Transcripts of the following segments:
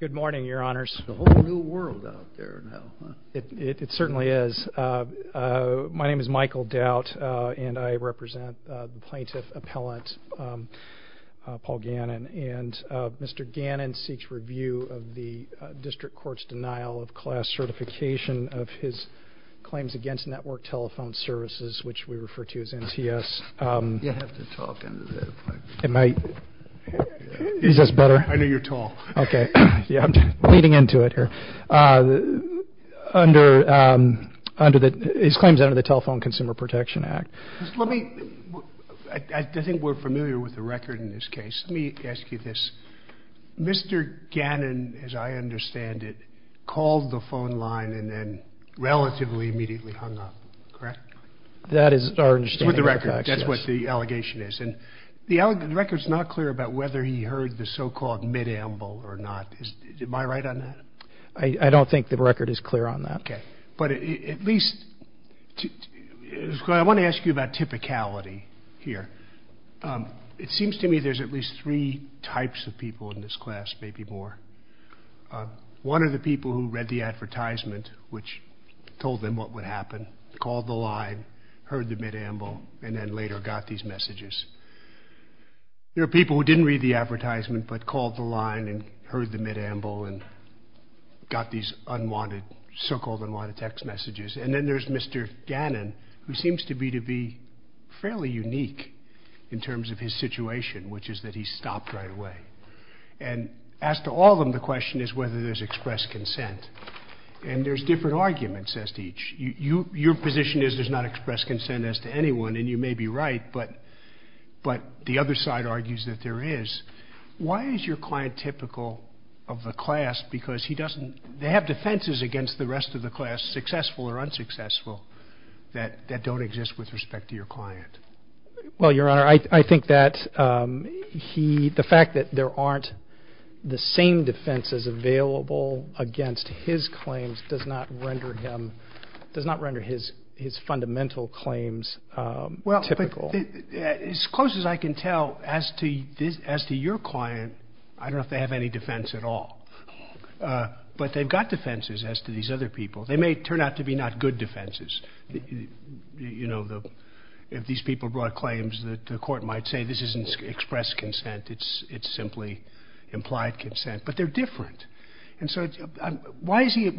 Good morning, your honors. It's a whole new world out there now. It certainly is. My name is Michael Doubt, and I represent the plaintiff appellant, Paul Gannon. And Mr. Gannon seeks review of the district court's denial of class certification of his claims against Network Telephone Services, which we refer to as NTS. You have to talk into the microphone. Am I... Is this better? I know you're tall. Okay. Yeah, I'm bleeding into it here. Under the... His claims under the Telephone Consumer Protection Act. Let me... I think we're familiar with the record in this case. Let me ask you this. Mr. Gannon, as I understand it, called the phone line and then relatively immediately hung up, correct? That is our understanding of facts, yes. With the record. That's what the allegation is. And the record's not clear about whether he heard the so-called mid-amble or not. Am I right on that? I don't think the record is clear on that. Okay. But at least... I want to ask you about typicality here. It seems to me there's at least three types of people in this class, maybe more. One are the people who read the advertisement, which told them what would happen, called the line, heard the mid-amble, and then later got these messages. There are people who didn't read the advertisement but called the line and heard the mid-amble and got these unwanted, so-called unwanted text messages. And then there's Mr. Gannon, who seems to me to be fairly unique in terms of his situation, which is that he stopped right away. And as to all of them, the question is whether there's expressed consent. And there's different arguments as to each. Your position is there's not expressed consent as to anyone, and you may be right, but the other side argues that there is. Why is your client typical of the class because he doesn't have defenses against the rest of the class, successful or unsuccessful, that don't exist with respect to your client? Well, Your Honor, I think that the fact that there aren't the same defenses available against his claims does not render his fundamental claims typical. Well, as close as I can tell, as to your client, I don't know if they have any defense at all. But they've got defenses as to these other people. They may turn out to be not good defenses. You know, if these people brought claims, the court might say this isn't expressed consent, it's simply implied consent, but they're different. And so why is he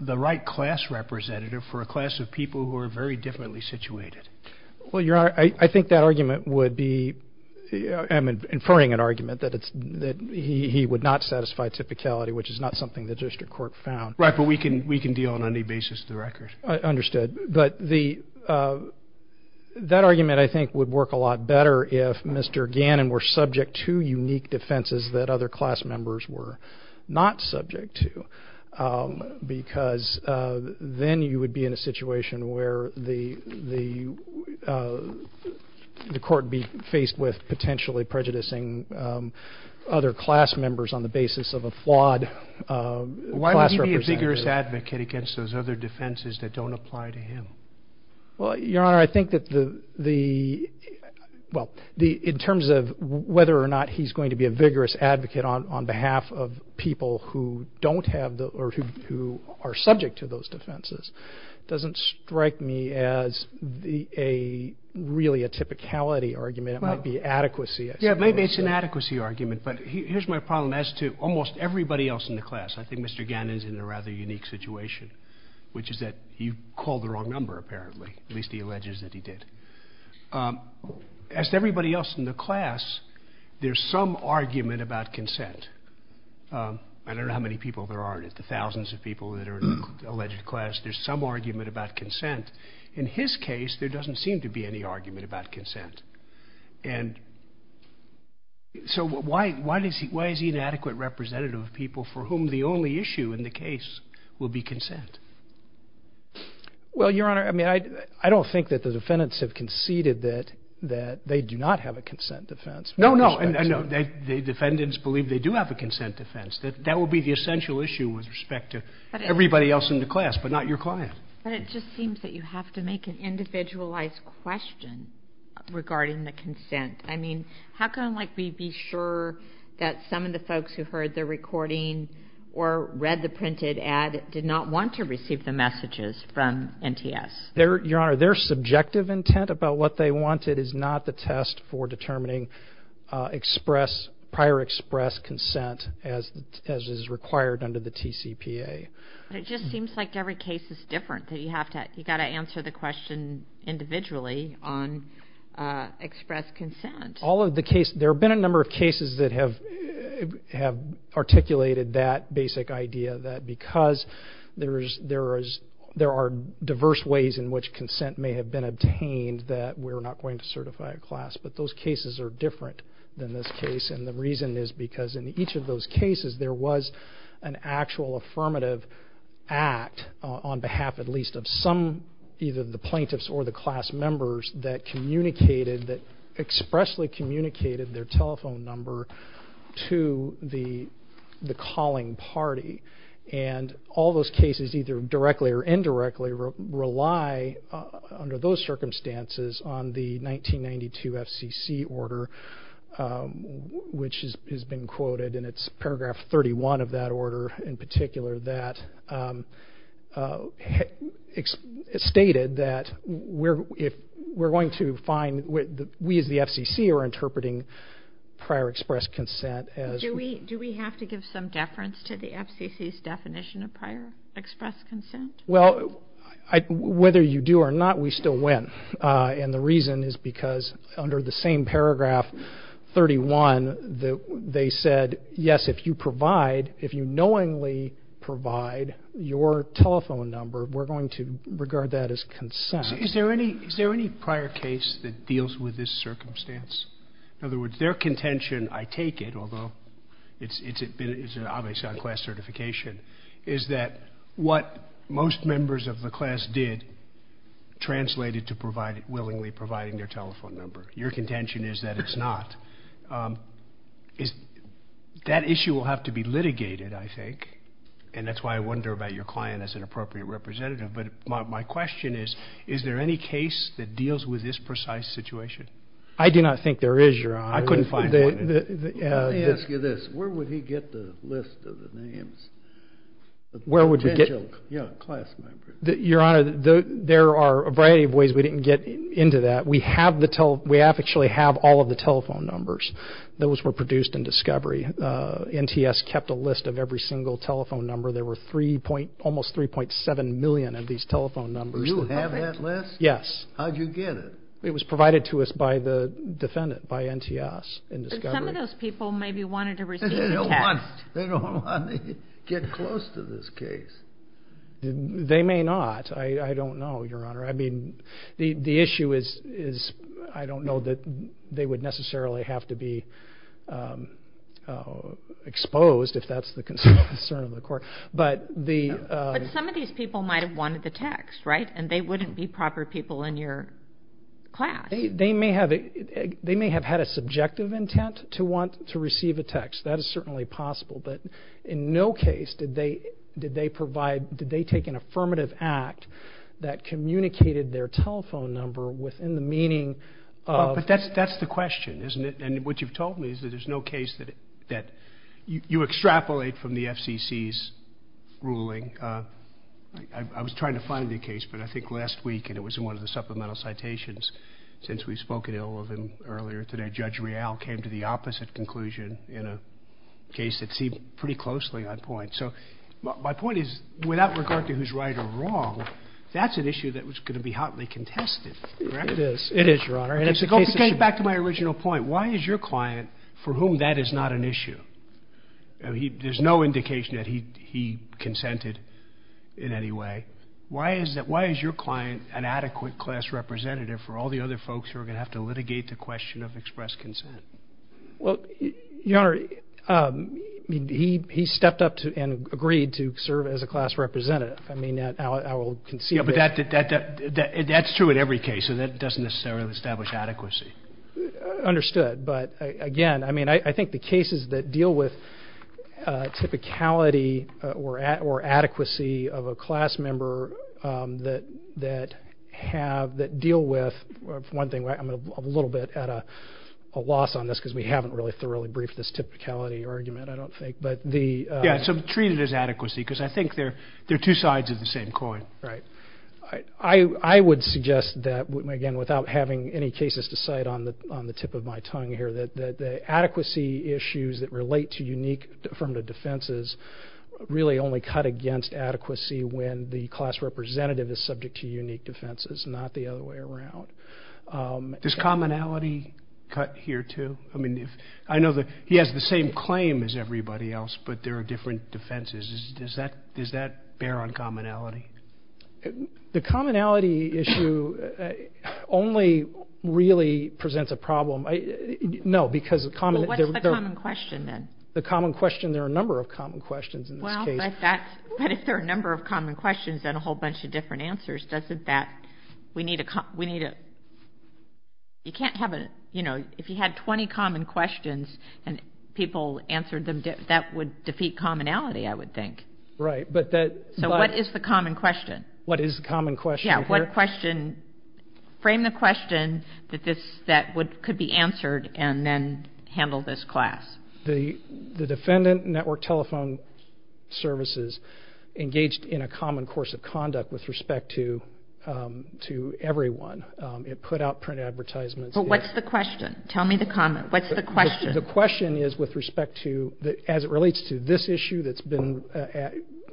the right class representative for a class of people who are very differently situated? Well, Your Honor, I think that argument would be, I'm inferring an argument, that he would not satisfy typicality, which is not something the district court found. Right, but we can deal on any basis of the record. Understood. But that argument, I think, would work a lot better if Mr. Gannon were subject to unique defenses that other class members were not subject to, because then you would be in a situation where the court would be faced with potentially prejudicing other class members on the basis of a flawed class representative. Why would he be a vigorous advocate against those other defenses that don't apply to him? Well, Your Honor, I think that the, well, in terms of whether or not he's going to be a vigorous advocate on behalf of people who don't have, or who are subject to those defenses, doesn't strike me as really a typicality argument. It might be adequacy. Yeah, maybe it's an adequacy argument, but here's my problem. As to almost everybody else in the class, I think Mr. Gannon's in a rather unique situation, which is that you called the wrong number, apparently, at least he alleges that he did. As to everybody else in the class, there's some argument about consent. I don't know how many people there are in it, the thousands of people that are in the alleged class. There's some argument about consent. In his case, there doesn't seem to be any argument about consent. And so why is he an adequate representative of people for whom the only issue in the case will be consent? Well, Your Honor, I mean, I don't think that the defendants have conceded that they do not have a consent defense. No, no, and the defendants believe they do have a consent defense. That will be the essential issue with respect to everybody else in the class, but not your client. But it just seems that you have to make an individualized question regarding the consent. I mean, how can we be sure that some of the folks who heard the recording or read the printed ad did not want to receive the messages from NTS? Your Honor, their subjective intent about what they wanted is not the test for determining prior express consent as is required under the TCPA. But it just seems like every case is different. You've got to answer the question individually on express consent. There have been a number of cases that have articulated that basic idea that because there are diverse ways in which consent may have been obtained that we're not going to certify a class. But those cases are different than this case, and the reason is because in each of those cases there was an actual affirmative act on behalf at least of either the plaintiffs or the class members that expressly communicated their telephone number to the calling party. And all those cases, either directly or indirectly, rely under those circumstances on the 1992 FCC order, which has been quoted. And it's paragraph 31 of that order in particular that stated that we're going to find that we as the FCC are interpreting prior express consent as... Do we have to give some deference to the FCC's definition of prior express consent? Well, whether you do or not, we still win. And the reason is because under the same paragraph 31 they said, yes, if you provide, if you knowingly provide your telephone number, we're going to regard that as consent. Is there any prior case that deals with this circumstance? In other words, their contention, I take it, although it's obviously on class certification, is that what most members of the class did translated to willingly providing their telephone number. Your contention is that it's not. That issue will have to be litigated, I think, and that's why I wonder about your client as an appropriate representative. But my question is, is there any case that deals with this precise situation? I do not think there is, Your Honor. I couldn't find one. Let me ask you this. Where would he get the list of the names of potential class members? Your Honor, there are a variety of ways we didn't get into that. We actually have all of the telephone numbers. Those were produced in discovery. NTS kept a list of every single telephone number. There were almost 3.7 million of these telephone numbers. You have that list? Yes. How did you get it? It was provided to us by the defendant, by NTS, in discovery. But some of those people maybe wanted to receive the text. They don't want to get close to this case. They may not. I don't know, Your Honor. I mean, the issue is I don't know that they would necessarily have to be exposed, if that's the concern of the court. But some of these people might have wanted the text, right? And they wouldn't be proper people in your class. They may have had a subjective intent to want to receive a text. That is certainly possible. But in no case did they provide, did they take an affirmative act that communicated their telephone number within the meaning of But that's the question, isn't it? And what you've told me is that there's no case that you extrapolate from the FCC's ruling. I was trying to find the case, but I think last week, and it was in one of the supplemental citations since we've spoken to all of them earlier today, Judge Real came to the opposite conclusion in a case that seemed pretty closely on point. So my point is, without regard to who's right or wrong, that's an issue that was going to be hotly contested, correct? It is. It is, Your Honor. And to go back to my original point, why is your client for whom that is not an issue? There's no indication that he consented in any way. Why is your client an adequate class representative for all the other folks who are going to have to litigate the question of express consent? Well, Your Honor, he stepped up and agreed to serve as a class representative. I mean, I will concede that. Yeah, but that's true in every case, so that doesn't necessarily establish adequacy. Understood. But, again, I mean, I think the cases that deal with typicality or adequacy of a class member that deal with, for one thing, I'm a little bit at a loss on this because we haven't really thoroughly briefed this typicality argument, I don't think. Yeah, so treat it as adequacy because I think they're two sides of the same coin. Right. I would suggest that, again, without having any cases to cite on the tip of my tongue here, that the adequacy issues that relate to unique affirmative defenses really only cut against adequacy when the class representative is subject to unique defenses, not the other way around. Does commonality cut here too? I mean, I know that he has the same claim as everybody else, but there are different defenses. Does that bear on commonality? The commonality issue only really presents a problem. No, because the common... Well, what's the common question then? The common question, there are a number of common questions in this case. Well, but if there are a number of common questions and a whole bunch of different answers, doesn't that, we need a... You can't have a, you know, if you had 20 common questions and people answered them, that would defeat commonality, I would think. Right, but that... So what is the common question? What is the common question here? Yeah, what question? Frame the question that could be answered and then handle this class. The defendant, Network Telephone Services, engaged in a common course of conduct with respect to everyone. It put out print advertisements... But what's the question? Tell me the comment. What's the question? The question is with respect to, as it relates to this issue that's been,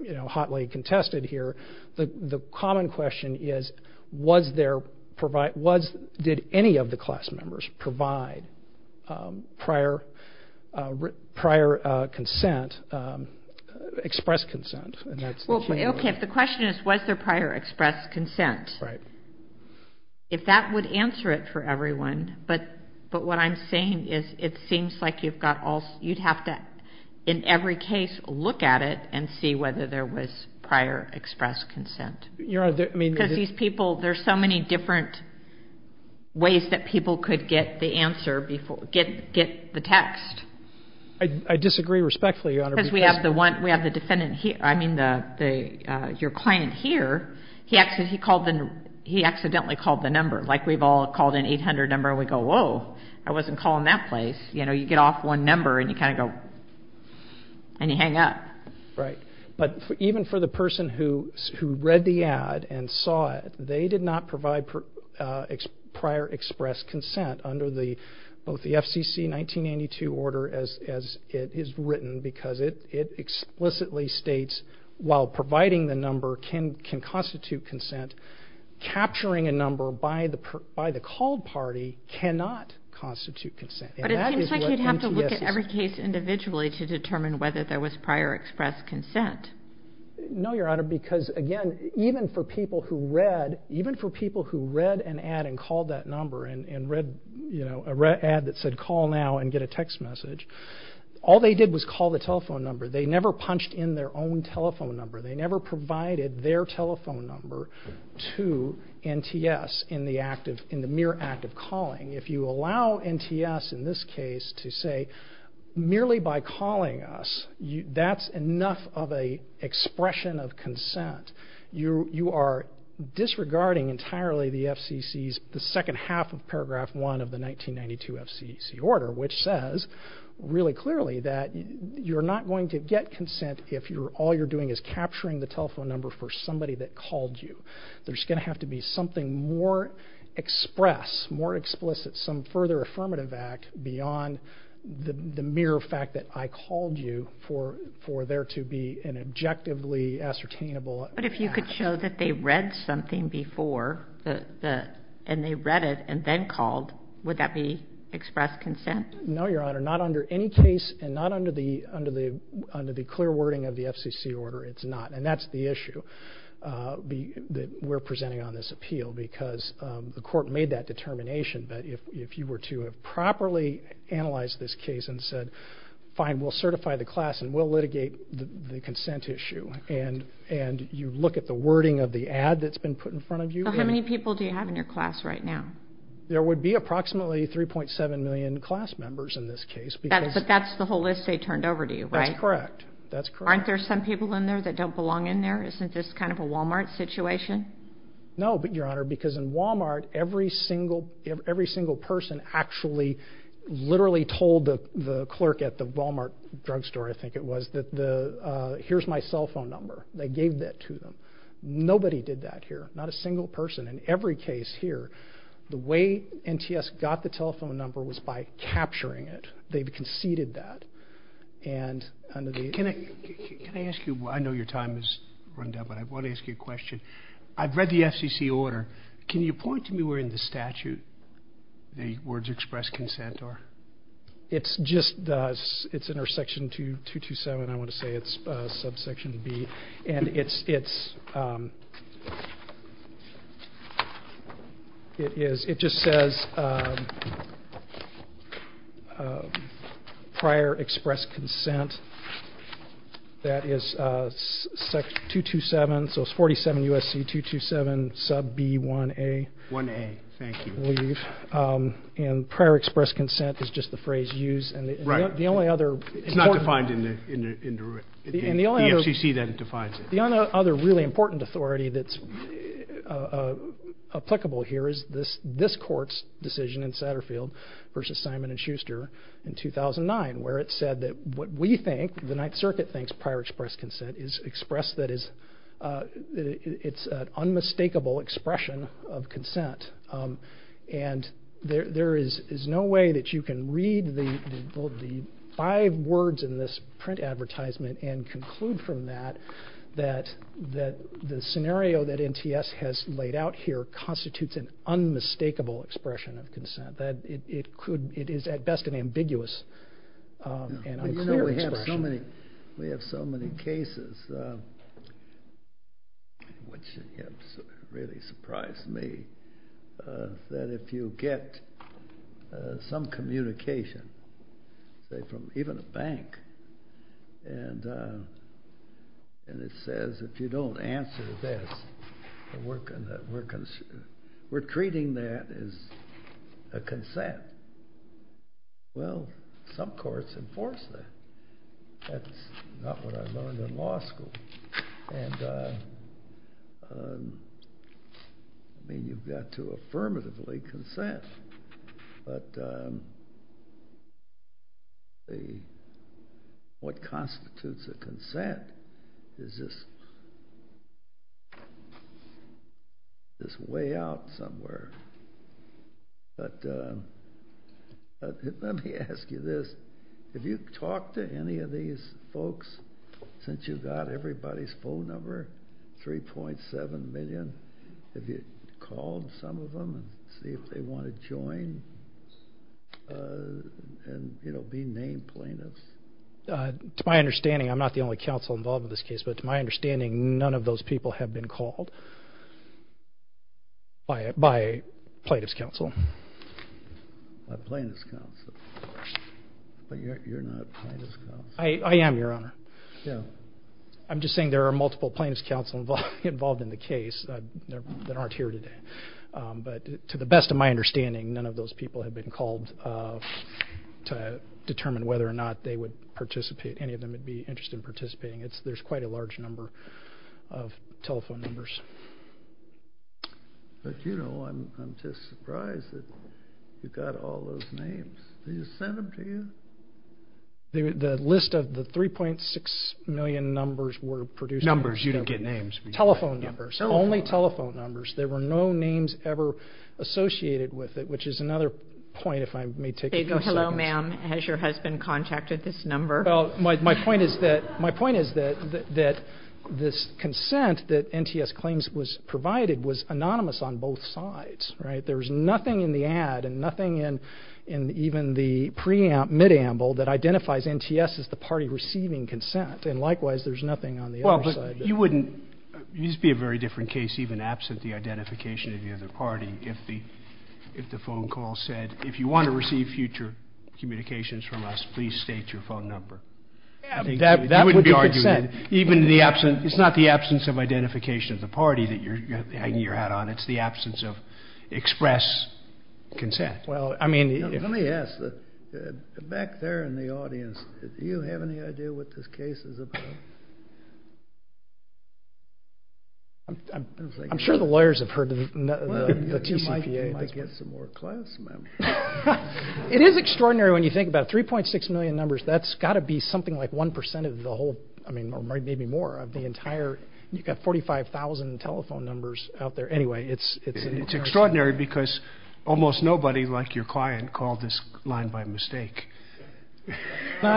you know, hotly contested here, the common question is, was there... Did any of the class members provide prior consent, express consent? Okay, the question is, was there prior express consent? Right. If that would answer it for everyone, but what I'm saying is, it seems like you've got all... You'd have to, in every case, look at it and see whether there was prior express consent. Your Honor, I mean... Because these people, there's so many different ways that people could get the answer, get the text. I disagree respectfully, Your Honor, because... Because we have the defendant here, I mean, your client here, he accidentally called the number. Like, we've all called an 800 number and we go, whoa, I wasn't calling that place. You know, you get off one number and you kind of go... And you hang up. Right. But even for the person who read the ad and saw it, they did not provide prior express consent under both the FCC 1982 order, as it is written, because it explicitly states, while providing the number can constitute consent, capturing a number by the called party cannot constitute consent. But it seems like you'd have to look at every case individually to determine whether there was prior express consent. No, Your Honor, because, again, even for people who read an ad and called that number and read an ad that said, call now and get a text message, all they did was call the telephone number. They never punched in their own telephone number. They never provided their telephone number to NTS in the mere act of calling. If you allow NTS in this case to say, merely by calling us, that's enough of an expression of consent. You are disregarding entirely the FCC's second half of paragraph one of the 1992 FCC order, which says really clearly that you're not going to get consent if all you're doing is capturing the telephone number for somebody that called you. There's going to have to be something more express, more explicit, some further affirmative act beyond the mere fact that I called you for there to be an objectively ascertainable act. But if you could show that they read something before and they read it and then called, would that be express consent? No, Your Honor, not under any case and not under the clear wording of the FCC order, it's not. And that's the issue. We're presenting on this appeal because the court made that determination. But if you were to have properly analyzed this case and said, fine, we'll certify the class and we'll litigate the consent issue, and you look at the wording of the ad that's been put in front of you. How many people do you have in your class right now? There would be approximately 3.7 million class members in this case. But that's the whole list they turned over to you, right? That's correct. Aren't there some people in there that don't belong in there? Isn't this kind of a Wal-Mart situation? No, Your Honor, because in Wal-Mart, every single person actually literally told the clerk at the Wal-Mart drugstore, I think it was, that here's my cell phone number. They gave that to them. Nobody did that here, not a single person. In every case here, the way NTS got the telephone number was by capturing it. They conceded that. Can I ask you? I know your time has run down, but I want to ask you a question. I've read the FCC order. Can you point to me where in the statute the words express consent are? It's in our section 227, I want to say. It's subsection B. And it just says prior express consent. That is 227, so it's 47 U.S.C. 227 sub B 1A. 1A, thank you. And prior express consent is just the phrase used. It's not defined in the rule. The FCC then defines it. The only other really important authority that's applicable here is this court's decision in Satterfield versus Simon and Schuster in 2009 where it said that what we think, the Ninth Circuit thinks prior express consent is expressed that it's an unmistakable expression of consent. And there is no way that you can read the five words in this print advertisement and conclude from that that the scenario that NTS has laid out here constitutes an unmistakable expression of consent. It is at best an ambiguous and unclear expression. We have so many cases, which really surprised me, that if you get some communication, say from even a bank, and it says if you don't answer this, we're treating that as a consent. Well, some courts enforce that. That's not what I learned in law school. And I mean, you've got to affirmatively consent. But what constitutes a consent is this way out somewhere. But let me ask you this. Have you talked to any of these folks since you got everybody's phone number, 3.7 million? Have you called some of them and see if they want to join? And, you know, be named plaintiffs. To my understanding, I'm not the only counsel involved in this case, but to my understanding, none of those people have been called by plaintiff's counsel. By plaintiff's counsel. But you're not plaintiff's counsel. I am, Your Honor. I'm just saying there are multiple plaintiff's counsel involved in the case that aren't here today. But to the best of my understanding, none of those people have been called to determine whether or not they would participate, any of them would be interested in participating. There's quite a large number of telephone numbers. But, you know, I'm just surprised that you've got all those names. Did you send them to you? The list of the 3.6 million numbers were produced. Numbers. You didn't get names. Telephone numbers. Only telephone numbers. There were no names ever associated with it, which is another point, if I may take a few seconds. Hello, ma'am. Has your husband contacted this number? Well, my point is that this consent that NTS claims was provided was anonymous on both sides. Right? There was nothing in the ad and nothing in even the mid-amble that identifies NTS as the party receiving consent. And, likewise, there's nothing on the other side. Well, but you wouldn't be a very different case even absent the identification of the other party if the phone call said, if you want to receive future communications from us, please state your phone number. That would be consent. It's not the absence of identification of the party that you're hanging your hat on. It's the absence of express consent. Well, let me ask. Back there in the audience, do you have any idea what this case is about? I'm sure the lawyers have heard the TCPA. I might get some more class, ma'am. It is extraordinary when you think about it. 3.6 million numbers, that's got to be something like 1% of the whole, I mean, or maybe more of the entire, you've got 45,000 telephone numbers out there. Anyway, it's an incredible number. It's extraordinary because almost nobody, like your client, called this line by mistake. So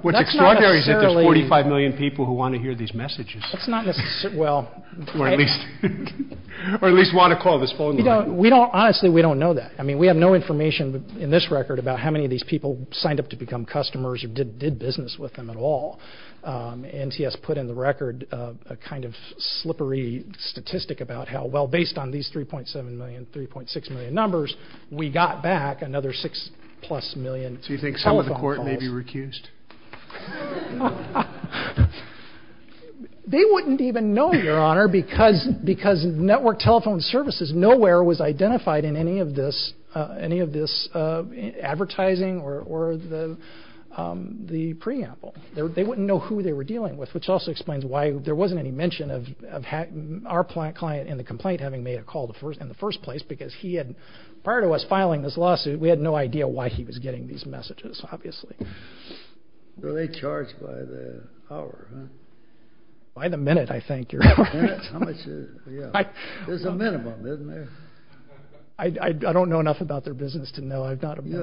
what's extraordinary is that there's 45 million people who want to hear these messages. That's not necessarily, well. Or at least want to call this phone line. Honestly, we don't know that. I mean, we have no information in this record about how many of these people signed up to become customers or did business with them at all. NTS put in the record a kind of slippery statistic about how, well, based on these 3.7 million, 3.6 million numbers, we got back another 6-plus million telephone calls. So you think some of the court may be recused? They wouldn't even know, Your Honor, because network telephone services nowhere was identified in any of this advertising or the preamble. They wouldn't know who they were dealing with, which also explains why there wasn't any mention of our client in the complaint having made a call in the first place because he had, prior to us filing this lawsuit, we had no idea why he was getting these messages, obviously. Were they charged by the hour? By the minute, I think, Your Honor. Minutes? How much? There's a minimum, isn't there? I don't know enough about their business to know. I'm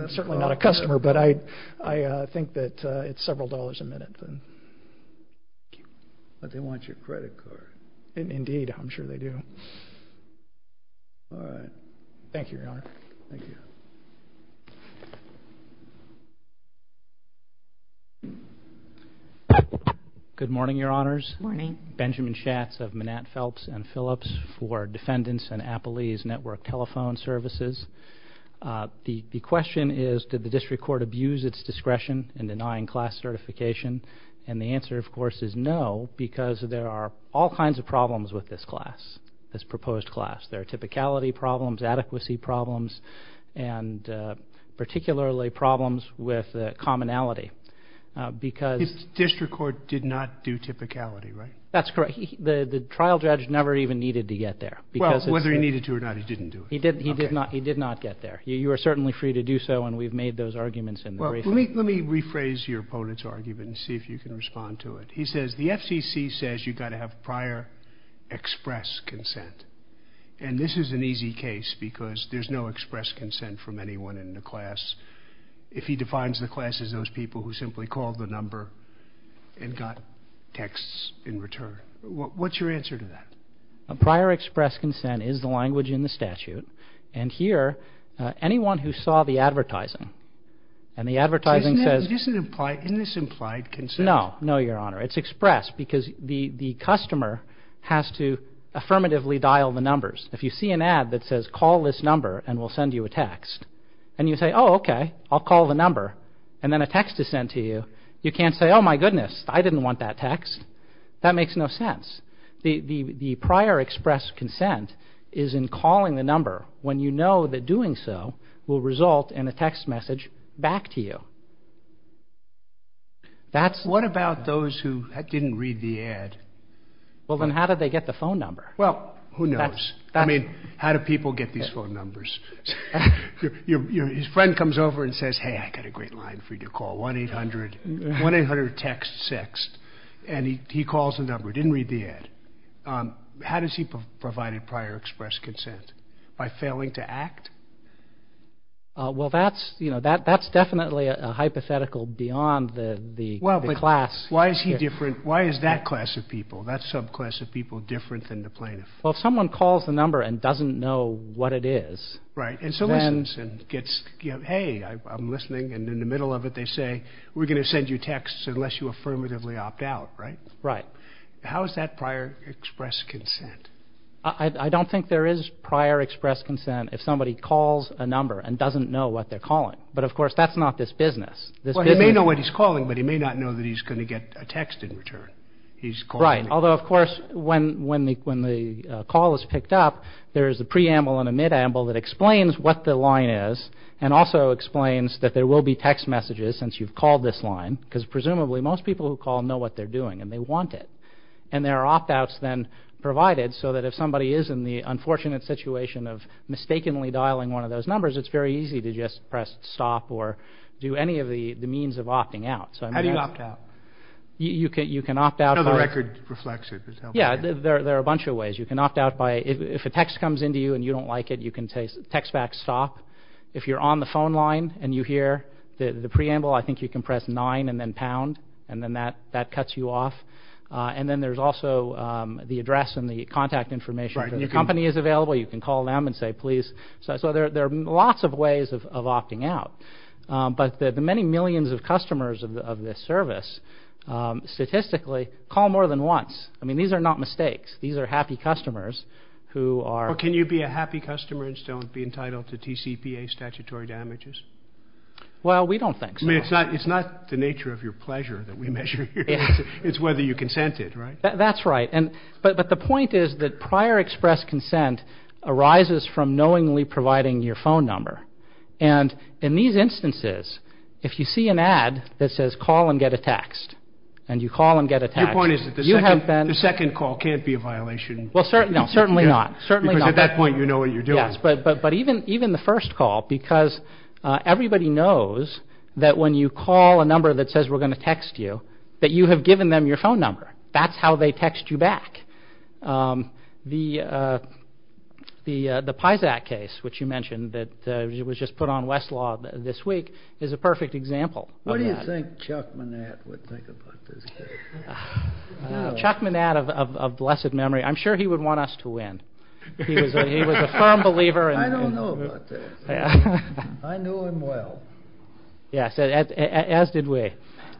certainly not a customer, but I think that it's several dollars a minute. But they want your credit card. Indeed, I'm sure they do. All right. Thank you, Your Honor. Thank you. Good morning, Your Honors. Good morning. Benjamin Schatz of Manat, Phelps & Phillips for Defendants and Appalese Network Telephone Services. The question is, did the district court abuse its discretion in denying class certification? And the answer, of course, is no because there are all kinds of problems with this class, this proposed class. There are typicality problems, adequacy problems, and particularly problems with commonality. District court did not do typicality, right? That's correct. The trial judge never even needed to get there. Well, whether he needed to or not, he didn't do it. He did not get there. You are certainly free to do so, and we've made those arguments in the briefing. Let me rephrase your opponent's argument and see if you can respond to it. He says the FCC says you've got to have prior express consent. And this is an easy case because there's no express consent from anyone in the class. If he defines the class as those people who simply called the number and got texts in return. What's your answer to that? Prior express consent is the language in the statute. And here, anyone who saw the advertising, and the advertising says— Isn't this implied consent? No, no, Your Honor. It's expressed because the customer has to affirmatively dial the numbers. If you see an ad that says, call this number and we'll send you a text. And you say, oh, okay, I'll call the number. And then a text is sent to you. You can't say, oh, my goodness, I didn't want that text. That makes no sense. The prior express consent is in calling the number when you know that doing so will result in a text message back to you. That's— What about those who didn't read the ad? Well, then how did they get the phone number? Well, who knows? I mean, how do people get these phone numbers? His friend comes over and says, hey, I've got a great line for you to call, 1-800-TEXT-6. And he calls the number, didn't read the ad. How does he provide a prior express consent? By failing to act? Well, that's, you know, that's definitely a hypothetical beyond the class. Well, but why is he different? Why is that class of people, that subclass of people, different than the plaintiff? Well, if someone calls the number and doesn't know what it is— Right, and so listens and gets, you know, hey, I'm listening. And in the middle of it they say, we're going to send you texts unless you affirmatively opt out, right? Right. How is that prior express consent? I don't think there is prior express consent if somebody calls a number and doesn't know what they're calling. But, of course, that's not this business. Well, he may know what he's calling, but he may not know that he's going to get a text in return. Right, although, of course, when the call is picked up, there is a preamble and a midamble that explains what the line is and also explains that there will be text messages since you've called this line because presumably most people who call know what they're doing and they want it. And there are opt-outs then provided so that if somebody is in the unfortunate situation of mistakenly dialing one of those numbers, it's very easy to just press stop or do any of the means of opting out. How do you opt out? You can opt out by— The record reflects it. Yeah, there are a bunch of ways. You can opt out by—if a text comes in to you and you don't like it, you can say text back stop. If you're on the phone line and you hear the preamble, I think you can press nine and then pound and then that cuts you off. And then there's also the address and the contact information. If your company is available, you can call them and say please. So there are lots of ways of opting out. But the many millions of customers of this service statistically call more than once. I mean, these are not mistakes. These are happy customers who are— Can you be a happy customer and still be entitled to TCPA statutory damages? Well, we don't think so. I mean, it's not the nature of your pleasure that we measure here. It's whether you consent it, right? That's right. But the point is that prior express consent arises from knowingly providing your phone number. And in these instances, if you see an ad that says call and get a text and you call and get a text— Your point is that the second call can't be a violation. Well, certainly not. Because at that point you know what you're doing. Yes, but even the first call, because everybody knows that when you call a number that says we're going to text you, that you have given them your phone number. That's how they text you back. The Pisac case, which you mentioned, that was just put on Westlaw this week, is a perfect example of that. What do you think Chuck Manatt would think about this case? Chuck Manatt of blessed memory. I'm sure he would want us to win. He was a firm believer in— I don't know about this. I knew him well. Yes, as did we.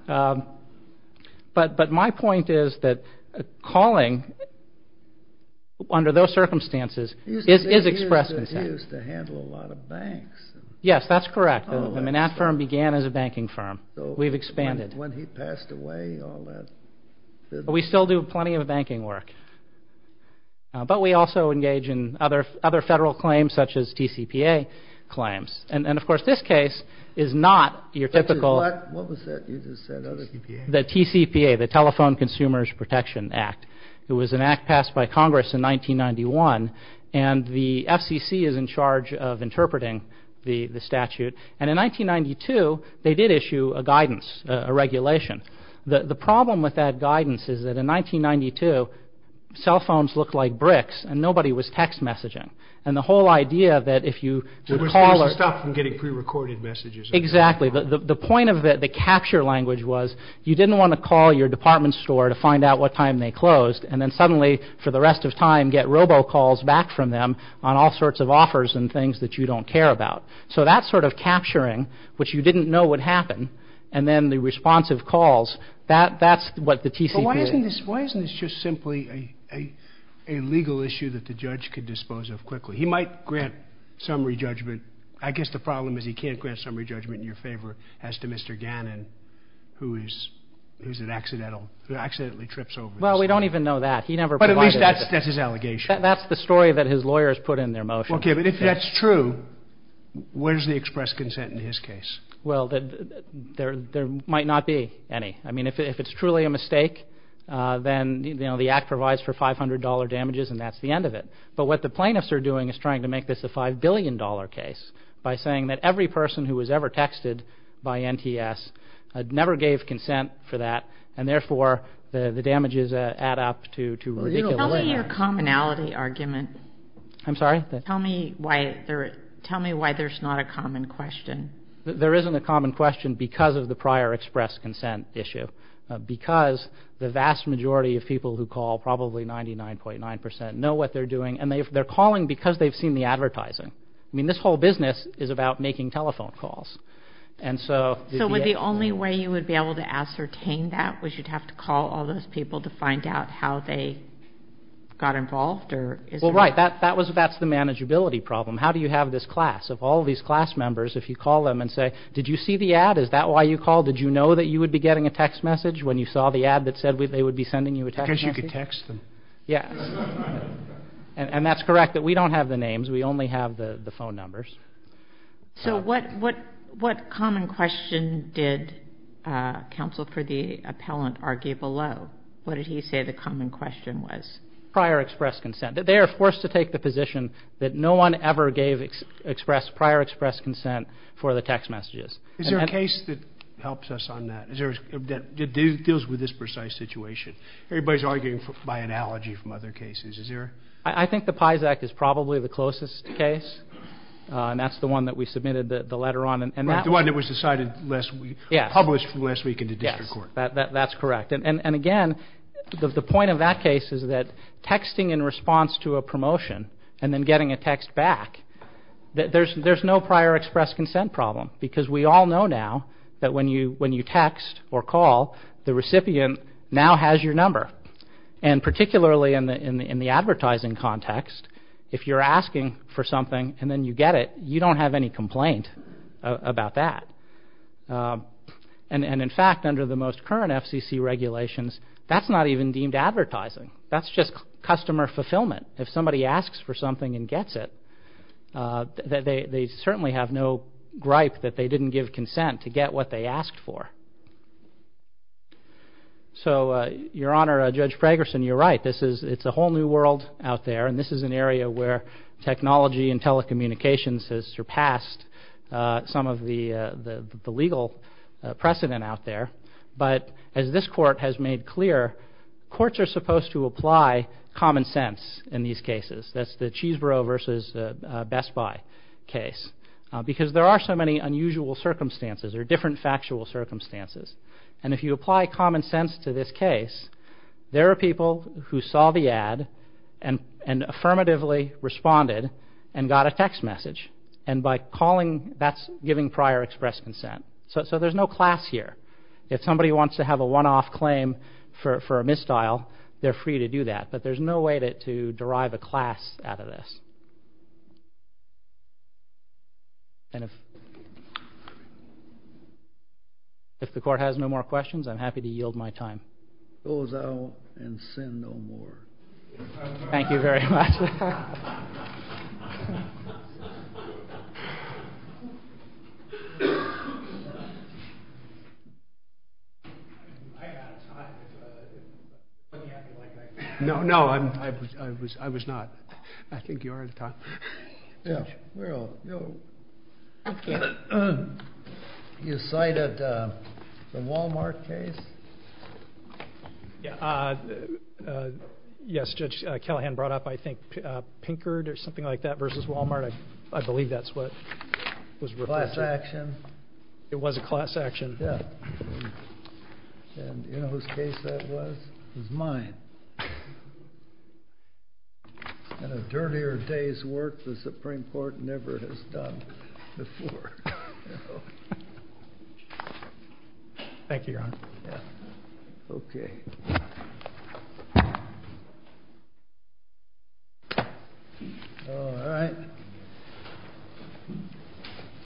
But my point is that calling under those circumstances is express consent. He used to handle a lot of banks. Yes, that's correct. Manatt firm began as a banking firm. We've expanded. When he passed away, all that— We still do plenty of banking work. But we also engage in other federal claims such as TCPA claims. And, of course, this case is not your typical— What was that you just said? The TCPA, the Telephone Consumer Protection Act. It was an act passed by Congress in 1991. And the FCC is in charge of interpreting the statute. And in 1992, they did issue a guidance, a regulation. The problem with that guidance is that in 1992, cell phones looked like bricks and nobody was text messaging. And the whole idea that if you— They were supposed to stop from getting prerecorded messages. Exactly. The point of the capture language was you didn't want to call your department store to find out what time they closed. And then suddenly, for the rest of time, get robocalls back from them on all sorts of offers and things that you don't care about. So that sort of capturing, which you didn't know would happen, and then the responsive calls, that's what the TCPA— Why isn't this just simply a legal issue that the judge could dispose of quickly? He might grant summary judgment. I guess the problem is he can't grant summary judgment in your favor as to Mr. Gannon, who accidentally trips over this. Well, we don't even know that. He never provided— But at least that's his allegation. That's the story that his lawyers put in their motion. Okay. But if that's true, where's the express consent in his case? Well, there might not be any. I mean, if it's truly a mistake, then the Act provides for $500 damages, and that's the end of it. But what the plaintiffs are doing is trying to make this a $5 billion case by saying that every person who was ever texted by NTS never gave consent for that, and therefore the damages add up to ridiculous— Tell me your commonality argument. I'm sorry? Tell me why there's not a common question. There isn't a common question because of the prior express consent issue, because the vast majority of people who call, probably 99.9 percent, know what they're doing, and they're calling because they've seen the advertising. I mean, this whole business is about making telephone calls. So would the only way you would be able to ascertain that was you'd have to call all those people to find out how they got involved? Well, right. That's the manageability problem. How do you have this class? If you call them and say, did you see the ad? Is that why you called? Did you know that you would be getting a text message when you saw the ad that said they would be sending you a text message? Because you could text them. Yes. And that's correct, that we don't have the names. We only have the phone numbers. So what common question did counsel for the appellant argue below? What did he say the common question was? Prior express consent. They are forced to take the position that no one ever gave prior express consent for the text messages. Is there a case that helps us on that, that deals with this precise situation? Everybody's arguing by analogy from other cases. Is there? I think the PIES Act is probably the closest case, and that's the one that we submitted the letter on. The one that was decided last week, published last week in the district court. Yes. That's correct. And again, the point of that case is that texting in response to a promotion and then getting a text back, there's no prior express consent problem because we all know now that when you text or call, the recipient now has your number. And particularly in the advertising context, if you're asking for something and then you get it, you don't have any complaint about that. And in fact, under the most current FCC regulations, that's not even deemed advertising. That's just customer fulfillment. If somebody asks for something and gets it, they certainly have no gripe that they didn't give consent to get what they asked for. So, Your Honor, Judge Pragerson, you're right. It's a whole new world out there, and this is an area where technology and telecommunications has surpassed some of the legal precedent out there. But as this court has made clear, courts are supposed to apply common sense in these cases. That's the Cheeseboro versus Best Buy case because there are so many unusual circumstances or different factual circumstances. And if you apply common sense to this case, there are people who saw the ad and affirmatively responded and got a text message. And by calling, that's giving prior express consent. So there's no class here. If somebody wants to have a one-off claim for a misdial, they're free to do that. But there's no way to derive a class out of this. And if the court has no more questions, I'm happy to yield my time. Close out and send no more. Thank you very much. No, no, I was not. I think you're out of time. Well, you cited the Walmart case. Yes, Judge Callahan brought up, I think, Pinkard or something like that versus Walmart. I believe that's what was referred to. Class action. It was a class action. Yeah. And you know whose case that was? It was mine. In a dirtier day's work, the Supreme Court never has done before. Thank you, Your Honor. Okay. All right.